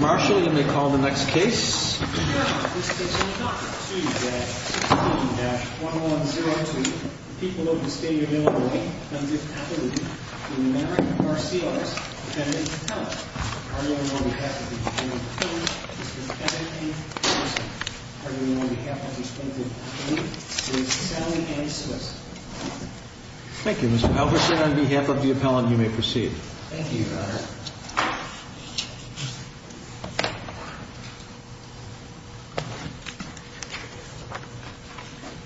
Marshall, you may call the next case. Your Honor, this case will not proceed at 16-1102. The people of the State of Illinois funded appellate in the name of R.C. Ellis, Appellant and Appellant. On behalf of the Attorney General, Mr. Kennedy, and on behalf of the respective attorneys, Ms. Sally Ann Swenson. Thank you, Mr. Albertson. On behalf of the appellant, you may proceed. Thank you, Your Honor.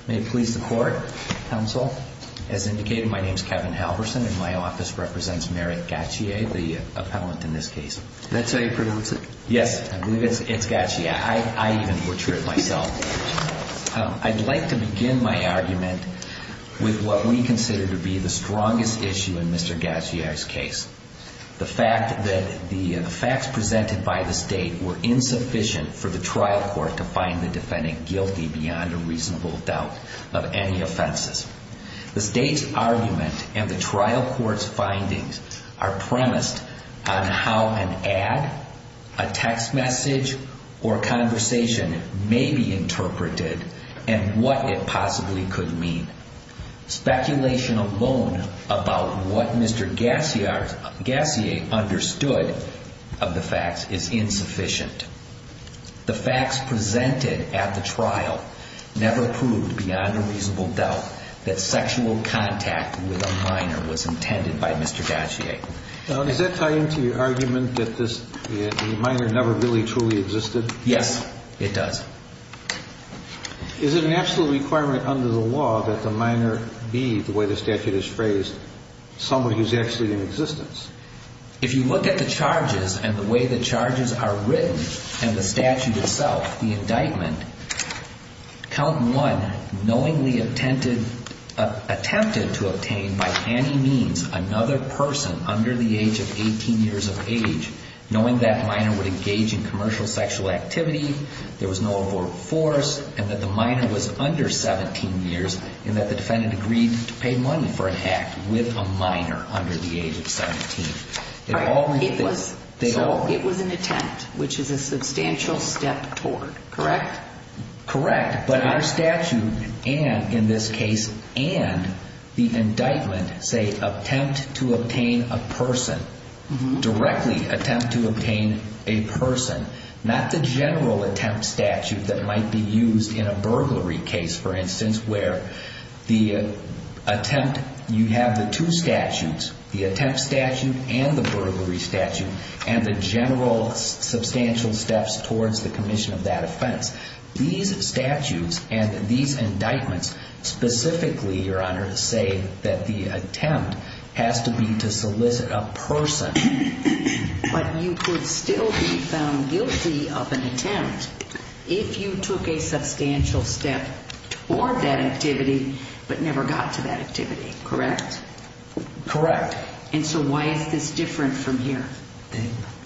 May it please the Court, Counsel. As indicated, my name is Kevin Halverson, and my office represents Merritt Gaciarz, the appellant in this case. Is that how you pronounce it? Yes, I believe it's Gaciarz. I even butcher it myself. I'd like to begin my argument with what we consider to be the strongest issue in Mr. Gaciarz's case. The facts presented by the State were insufficient for the trial court to find the defendant guilty beyond a reasonable doubt of any offenses. The State's argument and the trial court's findings are premised on how an ad, a text message, or conversation may be interpreted and what it possibly could mean. Speculation alone about what Mr. Gaciarz, Gacier, understood of the facts is insufficient. The facts presented at the trial never proved beyond a reasonable doubt that sexual contact with a minor was intended by Mr. Gaciarz. Now, does that tie into your argument that the minor never really truly existed? Yes, it does. Is it an absolute requirement under the law that the minor be, the way the statute is phrased, somebody who's actually in existence? If you look at the charges and the way the charges are written and the statute itself, the indictment, count one knowingly attempted to obtain by any means another person under the age of 18 years of age, knowing that minor would engage in commercial sexual activity, there was no abort force, and that the minor was under 17 years, and that the defendant agreed to pay money for an act with a minor under the age of 17. It was an attempt, which is a substantial step toward, correct? Correct, but our statute and, in this case, and the indictment say attempt to obtain a person, directly attempt to obtain a person, not the general attempt statute that might be used in a burglary case, for instance, where the attempt, you have the two statutes, the attempt statute and the burglary statute, and the general substantial steps towards the commission of that offense. These statutes and these indictments specifically, Your Honor, say that the attempt has to be to solicit a person. But you could still be found guilty of an attempt if you took a substantial step toward that activity, but never got to that activity, correct? Correct. And so why is this different from here?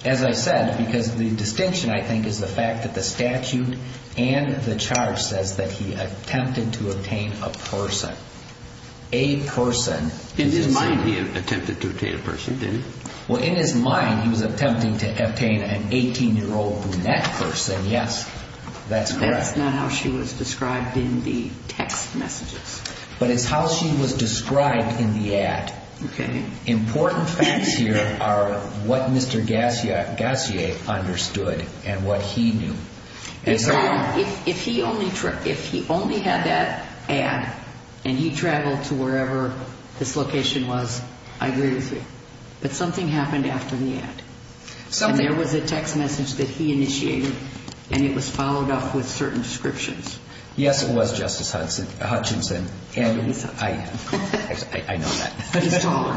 As I said, because the distinction, I think, is the fact that the statute and the charge says that he attempted to obtain a person. A person. It didn't say he attempted to obtain a person, did it? Well, in his mind, he was attempting to obtain an 18-year-old brunette person. Yes, that's correct. That's not how she was described in the text messages. But it's how she was described in the ad. Okay. Important facts here are what Mr. Gassier understood and what he knew. If he only had that ad and he traveled to wherever this location was, I agree with you. But something happened after the ad. Something. And there was a text message that he initiated, and it was followed up with certain descriptions. Yes, it was, Justice Hutchinson. And I know that. He's taller.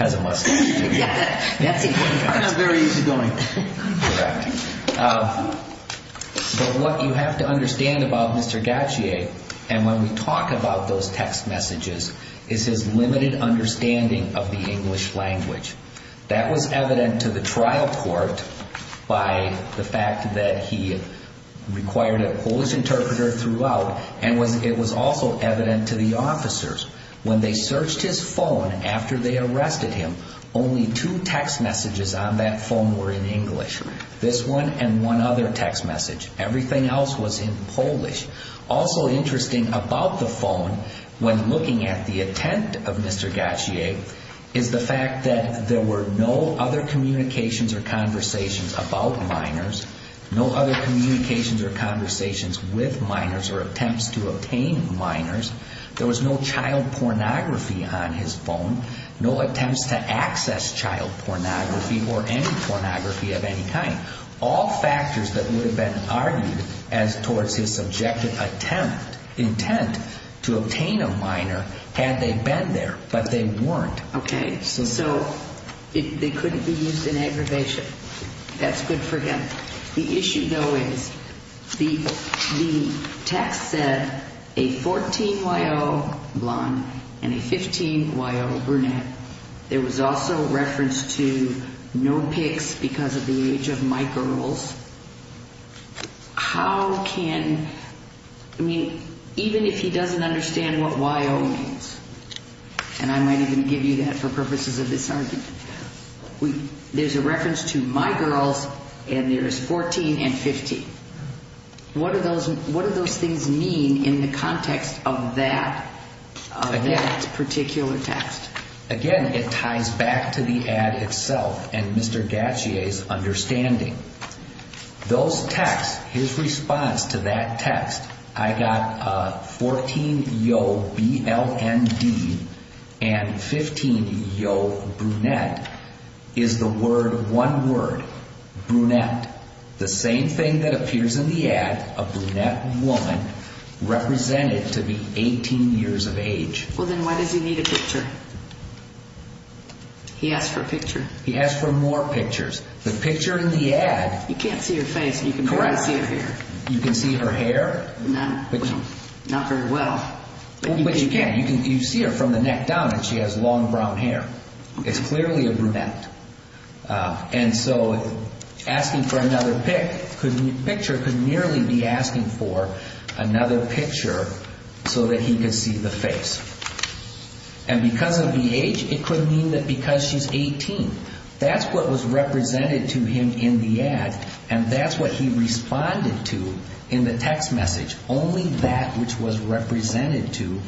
As it must be. That's important facts. And a very easygoing. Correct. But what you have to understand about Mr. Gassier, and when we talk about those text messages, is his limited understanding of the English language. That was evident to the trial court by the fact that he required a Polish interpreter throughout, and it was also evident to the officers. When they searched his phone after they arrested him, only two text messages on that phone were in English, this one and one other text message. Everything else was in Polish. Also interesting about the phone, when looking at the attempt of Mr. Gassier, is the fact that there were no other communications or conversations about minors, no other communications or conversations with minors or attempts to obtain minors. There was no child pornography on his phone, no attempts to access child pornography or any pornography of any kind. All factors that would have been argued as towards his subjective attempt, intent to obtain a minor had they been there, but they weren't. Okay. So they couldn't be used in aggravation. That's good for him. The issue, though, is the text said a 14-year-old blonde and a 15-year-old brunette. And there was also reference to no pics because of the age of my girls. How can, I mean, even if he doesn't understand what Y.O. means, and I might even give you that for purposes of this argument, there's a reference to my girls, and there's 14 and 15. What do those things mean in the context of that particular text? Again, it ties back to the ad itself and Mr. Gassier's understanding. Those texts, his response to that text, I got 14, Y.O., B-L-N-D, and 15, Y.O., brunette, is the word, one word, brunette. The same thing that appears in the ad, a brunette woman represented to be 18 years of age. Well, then why does he need a picture? He asked for a picture. He asked for more pictures. The picture in the ad. You can't see her face. Correct. You can barely see her hair. You can see her hair. Not very well. But you can. You see her from the neck down, and she has long brown hair. It's clearly a brunette. And so asking for another picture could merely be asking for another picture so that he could see the face. And because of the age, it could mean that because she's 18. That's what was represented to him in the ad, and that's what he responded to in the text message, only that which was represented to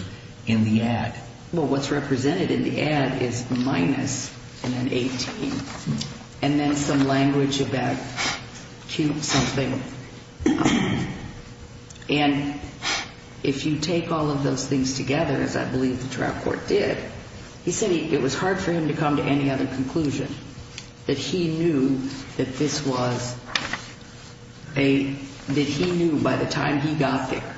in the ad. Well, what's represented in the ad is minus and then 18, and then some language about cute something. And if you take all of those things together, as I believe the trial court did, he said it was hard for him to come to any other conclusion, that he knew that this was a, that he knew by the time he got there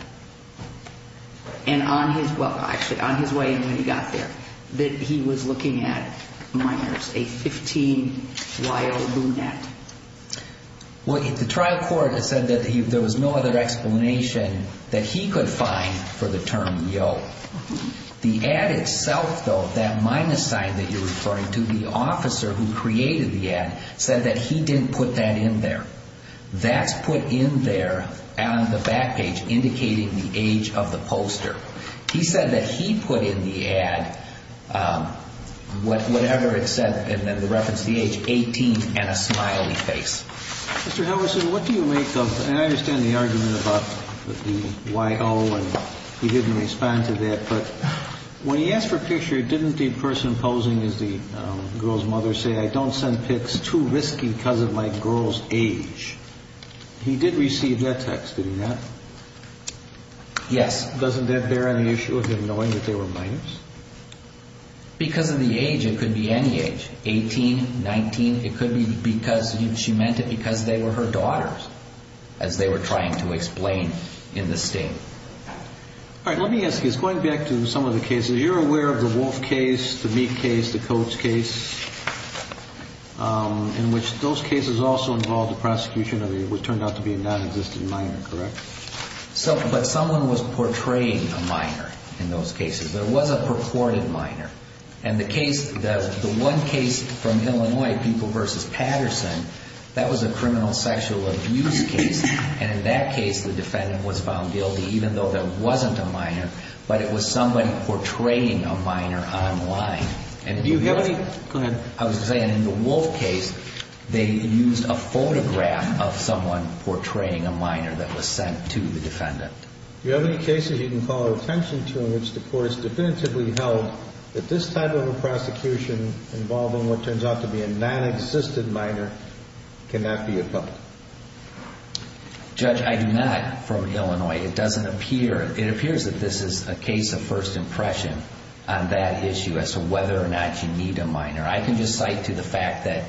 and on his, well, actually on his way when he got there, that he was looking at, my goodness, a 15-year-old brunette. Well, the trial court said that there was no other explanation that he could find for the term yo. The ad itself, though, that minus sign that you're referring to, the officer who created the ad said that he didn't put that in there. That's put in there on the back page indicating the age of the poster. He said that he put in the ad whatever it said in the reference to the age, 18 and a smiley face. Mr. Howison, what do you make of, and I understand the argument about the yo and he didn't respond to that, but when he asked for a picture, didn't the person posing as the girl's mother say, I don't send pics too risky because of my girl's age? He did receive that text, did he not? Yes. Doesn't that bear any issue with him knowing that they were minors? Because of the age, it could be any age, 18, 19. It could be because she meant it because they were her daughters, as they were trying to explain in the state. All right, let me ask you, going back to some of the cases, you're aware of the Wolf case, the Meek case, the Coates case, in which those cases also involved the prosecution of what turned out to be a nonexistent minor, correct? But someone was portraying a minor in those cases, but it was a purported minor. And the case, the one case from Illinois, People v. Patterson, that was a criminal sexual abuse case, and in that case, the defendant was found guilty, even though there wasn't a minor, but it was somebody portraying a minor online. And do you have any... Go ahead. I was saying in the Wolf case, they used a photograph of someone portraying a minor that was sent to the defendant. Do you have any cases you can call attention to in which the court has definitively held that this type of a prosecution involving what turns out to be a nonexistent minor cannot be a public? Judge, I do not, from Illinois. It doesn't appear... It appears that this is a case of first impression on that issue as to whether or not you need a minor. I can just cite to the fact that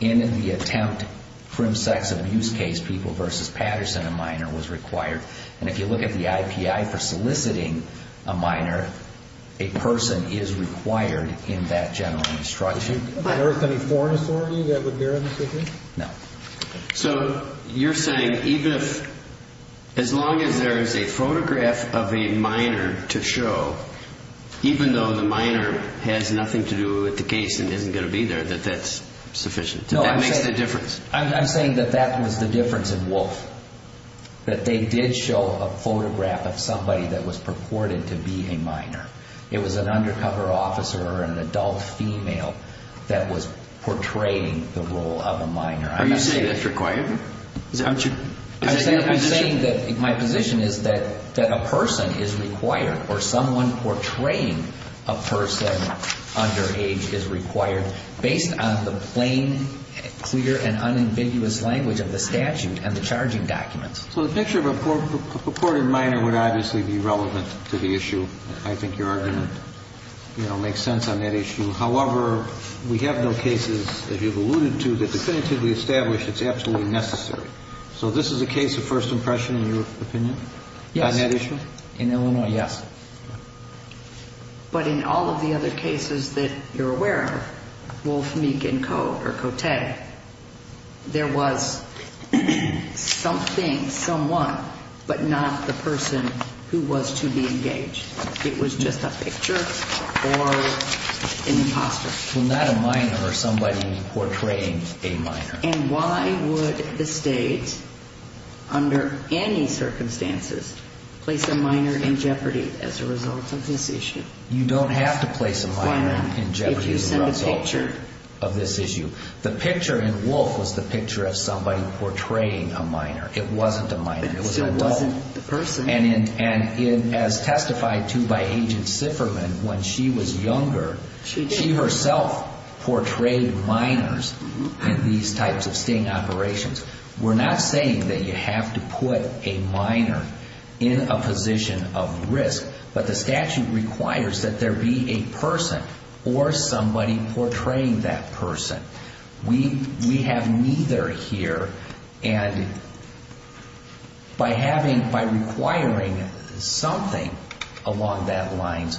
in the attempt for a sex abuse case, People v. Patterson, a minor was required. And if you look at the IPI for soliciting a minor, a person is required in that general instruction. Is there any foreign authority that would bear on this issue? No. So you're saying even if... As long as there is a photograph of a minor to show, even though the minor has nothing to do with the case and isn't going to be there, that that's sufficient? No, I'm saying... That makes the difference? That they did show a photograph of somebody that was purported to be a minor. It was an undercover officer or an adult female that was portraying the role of a minor. Are you saying that's required? I'm saying that my position is that a person is required or someone portraying a person underage is required based on the plain, clear, and unambiguous language of the statute and the charging documents. So the picture of a purported minor would obviously be relevant to the issue. I think you are going to make sense on that issue. However, we have no cases, as you've alluded to, that definitively establish it's absolutely necessary. So this is a case of first impression, in your opinion, on that issue? Yes. In Illinois, yes. But in all of the other cases that you're aware of, Wolf, Meek, and Cote, there was something, someone, but not the person who was to be engaged. It was just a picture or an imposter. Well, not a minor or somebody portraying a minor. And why would the state, under any circumstances, place a minor in jeopardy as a result of this issue? You don't have to place a minor in jeopardy as a result of this issue. The picture in Wolf was the picture of somebody portraying a minor. It wasn't a minor. It was an adult. So it wasn't the person. And as testified to by Agent Sifferman, when she was younger, she herself portrayed minors in these types of sting operations. We're not saying that you have to put a minor in a position of risk. But the statute requires that there be a person or somebody portraying that person. We have neither here. And by having, by requiring something along that line,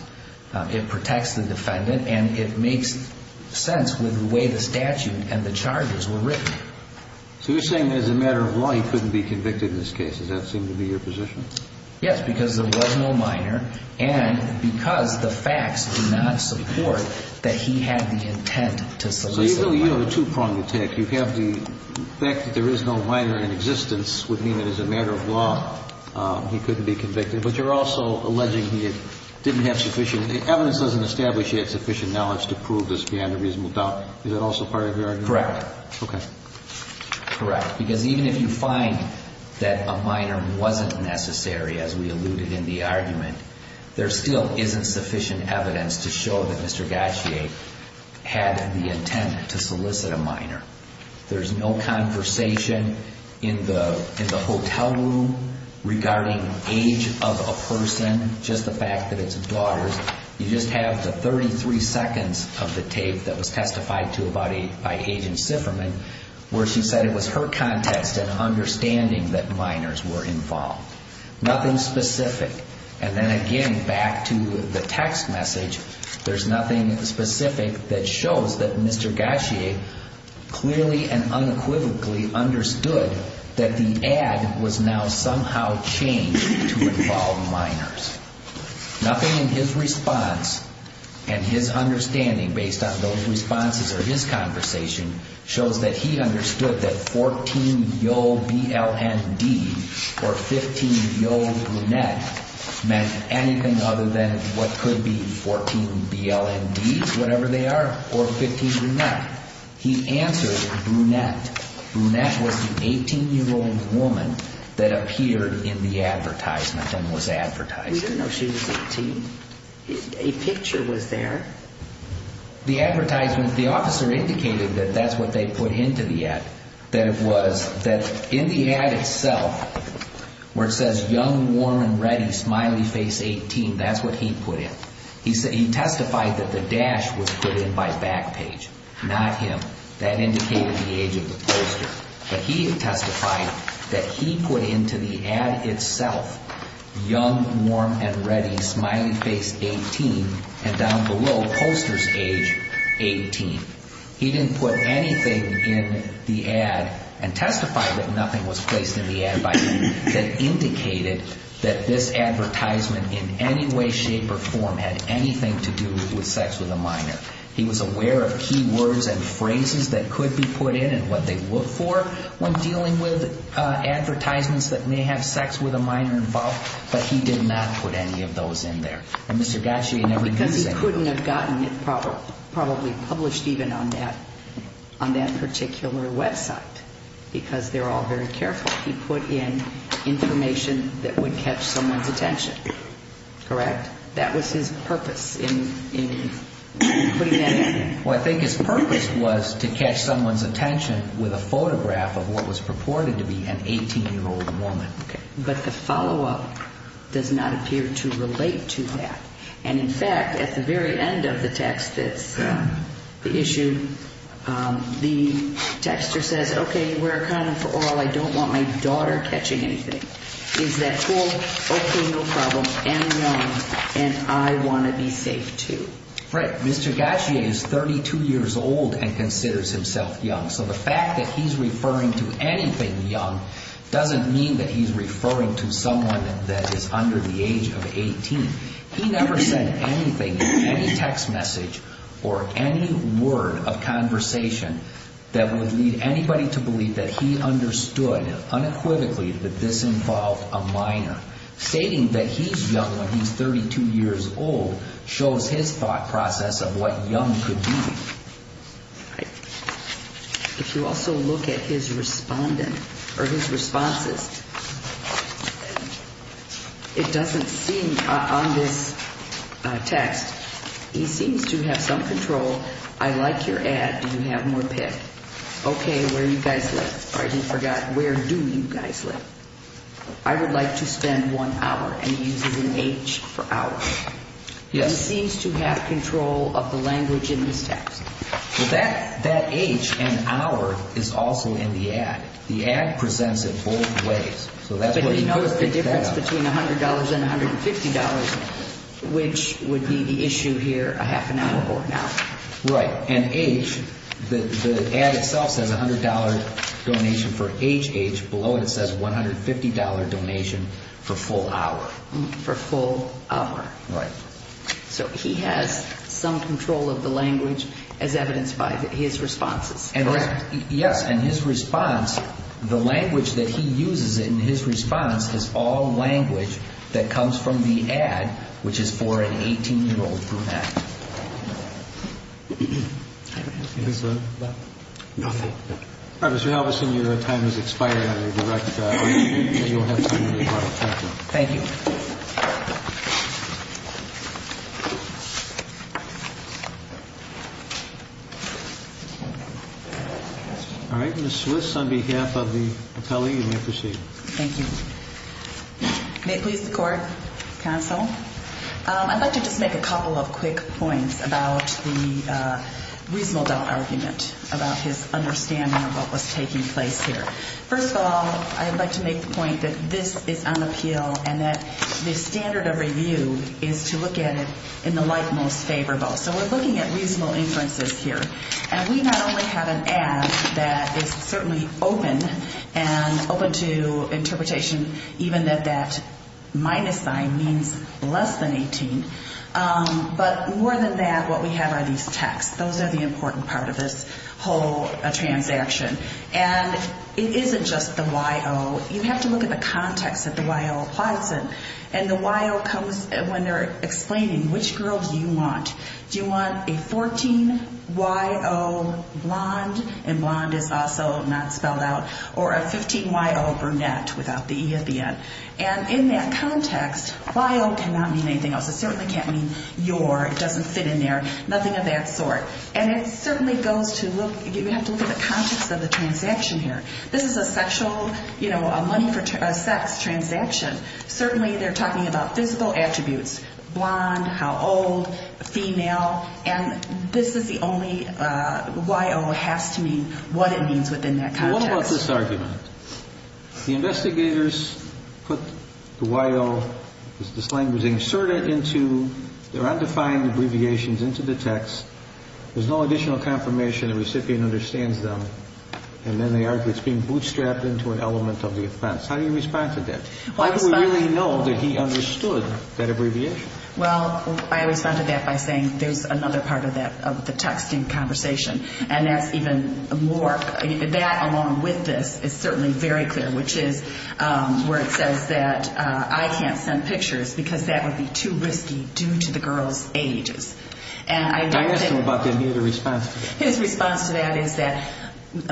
it protects the defendant and it makes sense with the way the statute and the charges were written. So you're saying that as a matter of law, he couldn't be convicted in this case. Does that seem to be your position? Yes, because there was no minor and because the facts do not support that he had the intent to solicit a minor. So you have a two-pronged attack. You have the fact that there is no minor in existence would mean that as a matter of law, he couldn't be convicted. But you're also alleging he didn't have sufficient, evidence doesn't establish he had sufficient knowledge to prove this beyond a reasonable doubt. Is that also part of your argument? Correct. Okay. Correct, because even if you find that a minor wasn't necessary, as we alluded in the argument, there still isn't sufficient evidence to show that Mr. Gautier had the intent to solicit a minor. There's no conversation in the hotel room regarding age of a person, just the fact that it's a daughter. You just have the 33 seconds of the tape that was testified to by Agent Sifferman, where she said it was her context and understanding that minors were involved. Nothing specific. And then again, back to the text message, there's nothing specific that shows that Mr. Gautier clearly and unequivocally understood that the ad was now somehow changed to involve minors. Nothing in his response and his understanding based on those responses or his conversation shows that he understood that 14 yo BLND or 15 yo brunette meant anything other than what could be 14 BLND, whatever they are, or 15 brunette. He answered brunette. Brunette was the 18-year-old woman that appeared in the advertisement and was advertised. We didn't know she was 18. A picture was there. The advertisement, the officer indicated that that's what they put into the ad, that it was that in the ad itself where it says young, warm, and ready, smiley face, 18, that's what he put in. He testified that the dash was put in by back page, not him. That indicated the age of the poster. But he testified that he put into the ad itself young, warm, and ready, smiley face, 18, and down below posters age 18. He didn't put anything in the ad and testified that nothing was placed in the ad by him that indicated that this advertisement in any way, shape, or form had anything to do with sex with a minor. He was aware of key words and phrases that could be put in and what they look for when dealing with advertisements that may have sex with a minor involved, but he did not put any of those in there. Because he couldn't have gotten it probably published even on that particular website because they're all very careful. He put in information that would catch someone's attention, correct? That was his purpose in putting that in there. Well, I think his purpose was to catch someone's attention with a photograph of what was purported to be an 18-year-old woman. But the follow-up does not appear to relate to that. And, in fact, at the very end of the text that's issued, the texter says, okay, we're a condom for all. I don't want my daughter catching anything. Is that cool? Okay, no problem. And I want to be safe, too. Right. Mr. Gauthier is 32 years old and considers himself young. So the fact that he's referring to anything young doesn't mean that he's referring to someone that is under the age of 18. He never said anything in any text message or any word of conversation that would lead anybody to believe that he understood unequivocally that this involved a minor. Stating that he's young when he's 32 years old shows his thought process of what young could mean. If you also look at his respondent or his responses, it doesn't seem on this text, he seems to have some control. I like your ad. Do you have more pick? Okay, where do you guys live? I just forgot. Where do you guys live? I would like to spend one hour. And he uses an H for hour. He seems to have control of the language in this text. Well, that H and hour is also in the ad. The ad presents it both ways. But he knows the difference between $100 and $150, which would be the issue here, a half an hour or an hour. Right. And H, the ad itself says $100 donation for HH. Below it says $150 donation for full hour. Right. So he has some control of the language as evidenced by his responses. Correct. Yes. And his response, the language that he uses in his response is all language that comes from the ad, which is for an 18-year-old group ad. I don't have anything to say. Nothing. All right, Mr. Halverson, your time has expired. I'm going to direct you. Thank you. Thank you. Thank you. All right, Ms. Swiss, on behalf of the appellee, you may proceed. Thank you. May it please the Court, counsel, I'd like to just make a couple of quick points about the reasonable doubt argument about his understanding of what was taking place here. First of all, I'd like to make the point that this is unappeal and that the standard of review is to look at it in the light most favorable. So we're looking at reasonable inferences here. And we not only have an ad that is certainly open and open to interpretation, even that that minus sign means less than 18, but more than that, what we have are these texts. Those are the important part of this whole transaction. And it isn't just the Y.O. You have to look at the context that the Y.O. applies in. And the Y.O. comes when they're explaining which girl do you want. Do you want a 14-Y.O. blonde, and blonde is also not spelled out, or a 15-Y.O. brunette without the E at the end. And in that context, Y.O. cannot mean anything else. It certainly can't mean your. It doesn't fit in there. Nothing of that sort. And it certainly goes to look, you have to look at the context of the transaction here. This is a sexual, you know, a money for sex transaction. Certainly they're talking about physical attributes, blonde, how old, female. And this is the only Y.O. has to mean what it means within that context. What about this argument? The investigators put the Y.O. The slang was inserted into their undefined abbreviations into the text. There's no additional confirmation the recipient understands them. And then they argue it's being bootstrapped into an element of the offense. How do you respond to that? Why do we really know that he understood that abbreviation? Well, I responded to that by saying there's another part of that, of the text in conversation. And that's even more, that along with this is certainly very clear, which is where it says that I can't send pictures because that would be too risky due to the girl's ages. I asked him about the immediate response. His response to that is that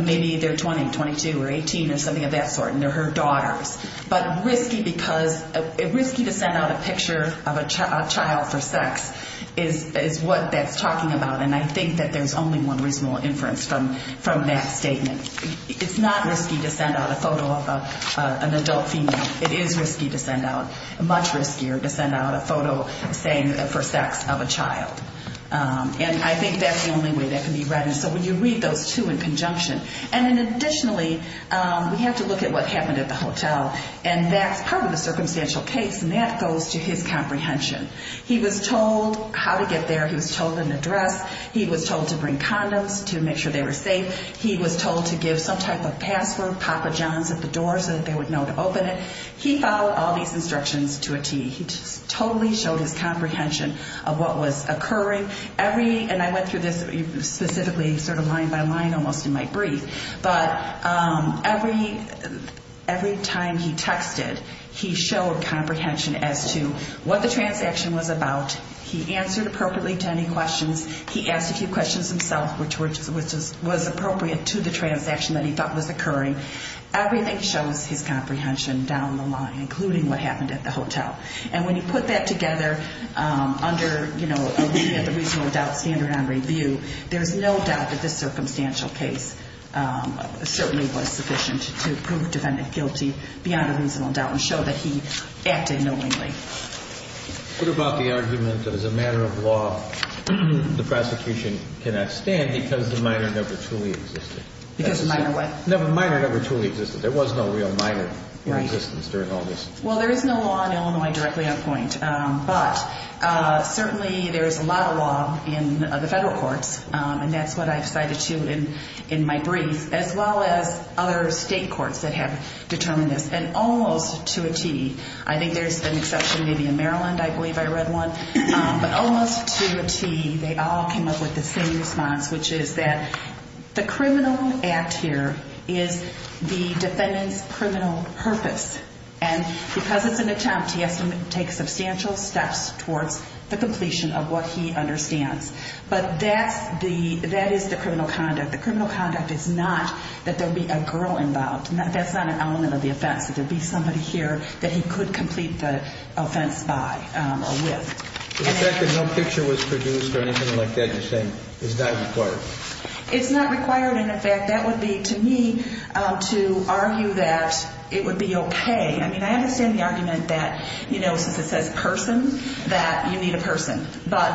maybe they're 20, 22, or 18, or something of that sort, and they're her daughters. But risky because risky to send out a picture of a child for sex is what that's talking about. And I think that there's only one reasonable inference from that statement. It's not risky to send out a photo of an adult female. It is risky to send out, much riskier to send out a photo saying for sex of a child. And I think that's the only way that can be read. And so when you read those two in conjunction. And then additionally, we have to look at what happened at the hotel. And that's part of the circumstantial case, and that goes to his comprehension. He was told how to get there. He was told an address. He was told to bring condoms to make sure they were safe. He was told to give some type of password, Papa John's at the door, so that they would know to open it. He followed all these instructions to a T. He just totally showed his comprehension of what was occurring. And I went through this specifically sort of line by line almost in my brief. But every time he texted, he showed comprehension as to what the transaction was about. He answered appropriately to any questions. He asked a few questions himself, which was appropriate to the transaction that he thought was occurring. Everything shows his comprehension down the line, including what happened at the hotel. And when you put that together under a reasonable doubt standard on review, there's no doubt that this circumstantial case certainly was sufficient to prove defendant guilty beyond a reasonable doubt and show that he acted knowingly. What about the argument that as a matter of law, the prosecution cannot stand because the minor never truly existed? Because the minor what? The minor never truly existed. There was no real minor in existence during all this. Well, there is no law in Illinois directly on point. But certainly there is a lot of law in the federal courts, and that's what I've cited too in my brief, as well as other state courts that have determined this. And almost to a T, I think there's an exception maybe in Maryland, I believe I read one, but almost to a T, they all came up with the same response, which is that the criminal act here is the defendant's criminal purpose. And because it's an attempt, he has to take substantial steps towards the completion of what he understands. But that is the criminal conduct. The criminal conduct is not that there be a girl involved. That's not an element of the offense, that there be somebody here that he could complete the offense by or with. The fact that no picture was produced or anything like that, you're saying, is not required? It's not required. And, in fact, that would be, to me, to argue that it would be okay. I mean, I understand the argument that, you know, since it says person, that you need a person. But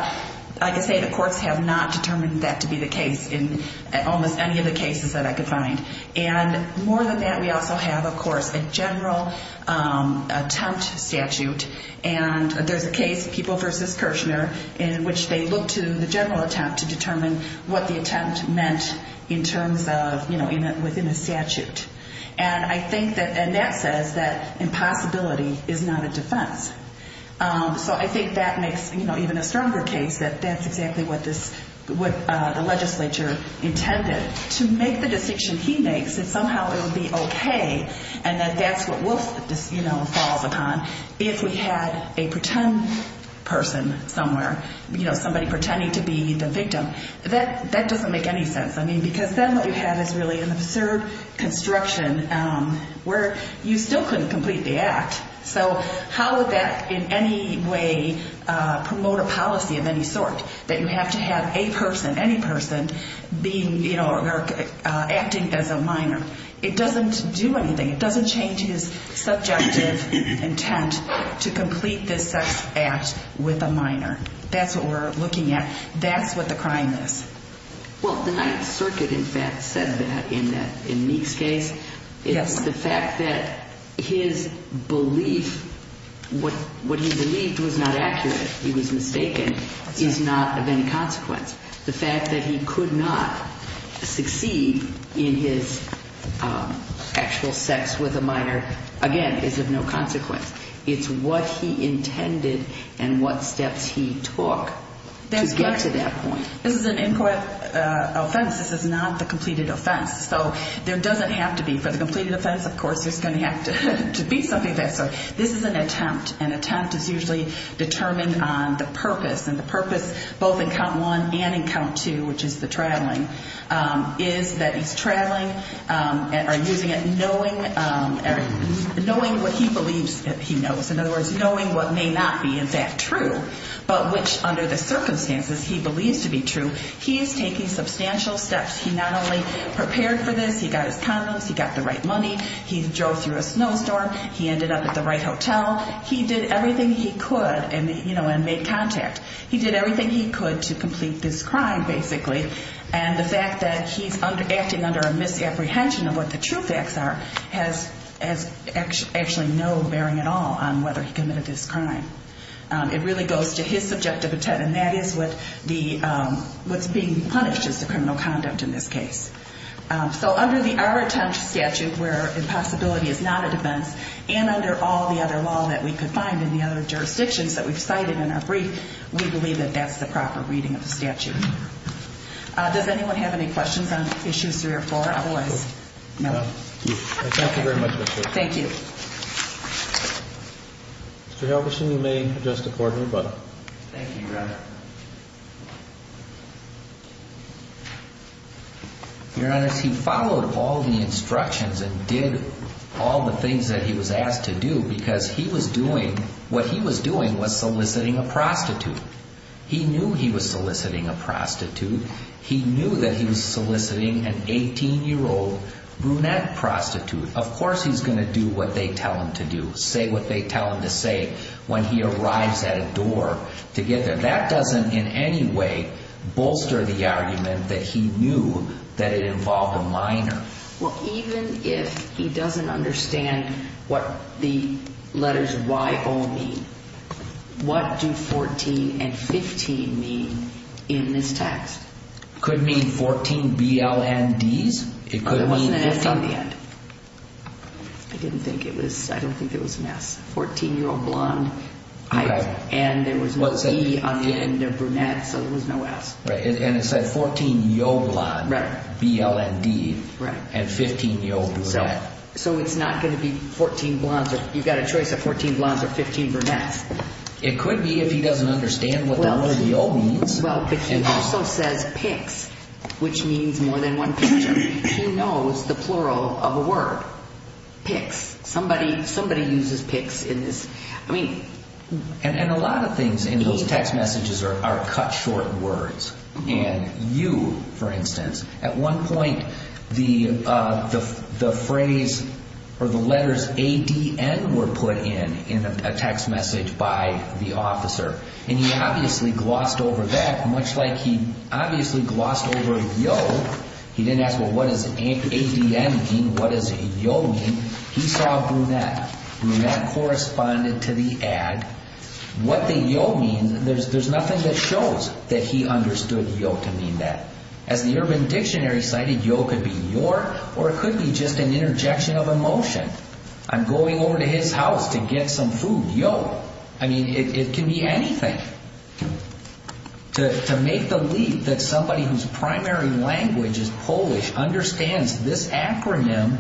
like I say, the courts have not determined that to be the case in almost any of the cases that I could find. And more than that, we also have, of course, a general attempt statute. And there's a case, People v. Kirchner, in which they look to the general attempt to determine what the attempt meant in terms of, you know, within a statute. And I think that, and that says that impossibility is not a defense. So I think that makes, you know, even a stronger case that that's exactly what this, what the legislature intended, to make the decision he makes that somehow it would be okay and that that's what Wolf, you know, falls upon. If we had a pretend person somewhere, you know, somebody pretending to be the victim, that doesn't make any sense. I mean, because then what you have is really an absurd construction where you still couldn't complete the act. So how would that in any way promote a policy of any sort, that you have to have a person, any person, being, you know, acting as a minor? It doesn't do anything. It doesn't change his subjective intent to complete this sex act with a minor. That's what we're looking at. That's what the crime is. Well, the Ninth Circuit, in fact, said that in that, in Meek's case. It's the fact that his belief, what he believed was not accurate, he was mistaken, is not of any consequence. The fact that he could not succeed in his actual sex with a minor, again, is of no consequence. It's what he intended and what steps he took to get to that point. This is an input offense. This is not the completed offense. So there doesn't have to be. For the completed offense, of course, there's going to have to be something there. So this is an attempt, and attempt is usually determined on the purpose, and the purpose both in count one and in count two, which is the traveling, is that he's traveling or using it knowing what he believes he knows. In other words, knowing what may not be, in fact, true, but which under the circumstances he believes to be true, he is taking substantial steps. He not only prepared for this. He got his condoms. He got the right money. He drove through a snowstorm. He ended up at the right hotel. He did everything he could and made contact. He did everything he could to complete this crime, basically, and the fact that he's acting under a misapprehension of what the true facts are has actually no bearing at all on whether he committed this crime. It really goes to his subjective intent, and that is what's being punished as the criminal conduct in this case. So under our attempt statute, where impossibility is not a defense, and under all the other law that we could find in the other jurisdictions that we've cited in our brief, we believe that that's the proper reading of the statute. Does anyone have any questions on Issues 3 or 4? Otherwise, no. Thank you very much. Thank you. Mr. Helgerson, you may address the floor to everybody. Thank you, Your Honor. Your Honor, he followed all the instructions and did all the things that he was asked to do because what he was doing was soliciting a prostitute. He knew he was soliciting a prostitute. He knew that he was soliciting an 18-year-old brunette prostitute. Of course he's going to do what they tell him to do, say what they tell him to say, when he arrives at a door to get there. That doesn't in any way bolster the argument that he knew that it involved a minor. Well, even if he doesn't understand what the letters Y-O mean, what do 14 and 15 mean in this text? It could mean 14 B-L-N-Ds. It wasn't an S on the end. I don't think it was an S. 14-year-old blonde, and there was no D on the end of brunette, so there was no S. And it said 14 Y-O blonde, B-L-N-D, and 15 Y-O brunette. So it's not going to be 14 blondes. You've got a choice of 14 blondes or 15 brunettes. It could be if he doesn't understand what the letter Y-O means. Well, but he also says picks, which means more than one picture. Who knows the plural of a word? Picks. Somebody uses picks in this. And a lot of things in those text messages are cut short words. And you, for instance, at one point the phrase or the letters A-D-N were put in, in a text message by the officer. And he obviously glossed over that, much like he obviously glossed over Y-O. He didn't ask, well, what does A-D-N mean? What does Y-O mean? He saw brunette. Brunette corresponded to the ad. What the Y-O means, there's nothing that shows that he understood Y-O to mean that. As the Urban Dictionary cited, Y-O could be your or it could be just an interjection of emotion. I'm going over to his house to get some food. Y-O. I mean, it can be anything. To make the leap that somebody whose primary language is Polish understands this acronym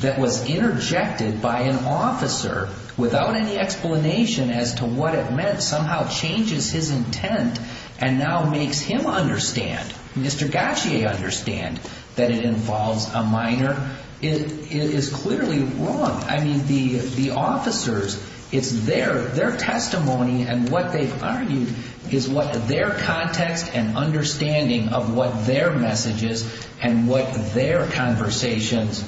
that was interjected by an officer without any explanation as to what it meant somehow changes his intent and now makes him understand, Mr. Gautier understand, that it involves a minor, it is clearly wrong. I mean, the officers, it's their testimony and what they've argued is what their context and understanding of what their message is and what their conversations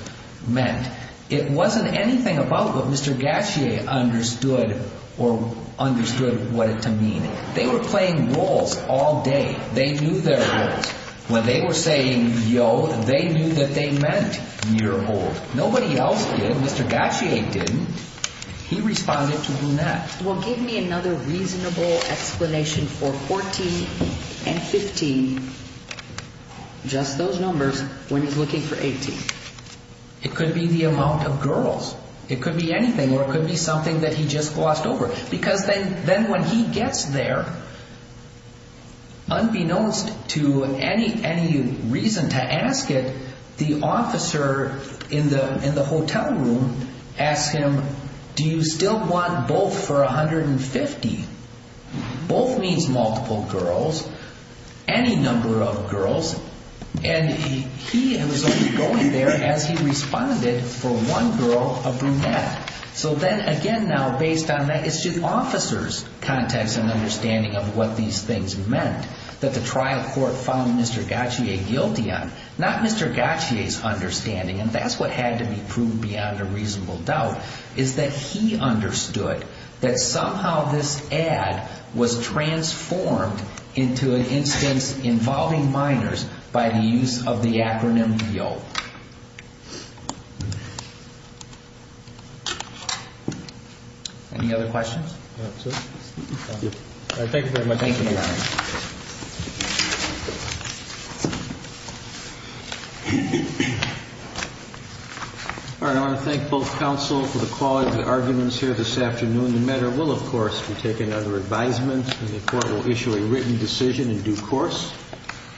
meant. It wasn't anything about what Mr. Gautier understood or understood what it to mean. They were playing roles all day. They knew their roles. When they were saying Y-O, they knew that they meant year old. Nobody else did. Mr. Gautier didn't. He responded to who met. Well, give me another reasonable explanation for 14 and 15. Just those numbers when he's looking for 18. It could be the amount of girls. It could be anything or it could be something that he just glossed over because then when he gets there, unbeknownst to any reason to ask it, the officer in the hotel room asks him, do you still want both for 150? Both means multiple girls, any number of girls, and he was only going there as he responded for one girl of whom met. So then again now, based on that, it's just officers' context and understanding of what these things meant that the trial court found Mr. Gautier guilty on. Not Mr. Gautier's understanding, and that's what had to be proved beyond a reasonable doubt, is that he understood that somehow this ad was transformed into an instance involving minors by the use of the acronym Y-O. Any other questions? All right, thank you very much. Thank you, Your Honor. All right, I want to thank both counsel for the quality of the arguments here this afternoon. The matter will, of course, be taken under advisement, and the Court will issue a written decision in due course.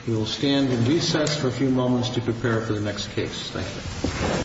We will stand in recess for a few moments to prepare for the next case. Thank you.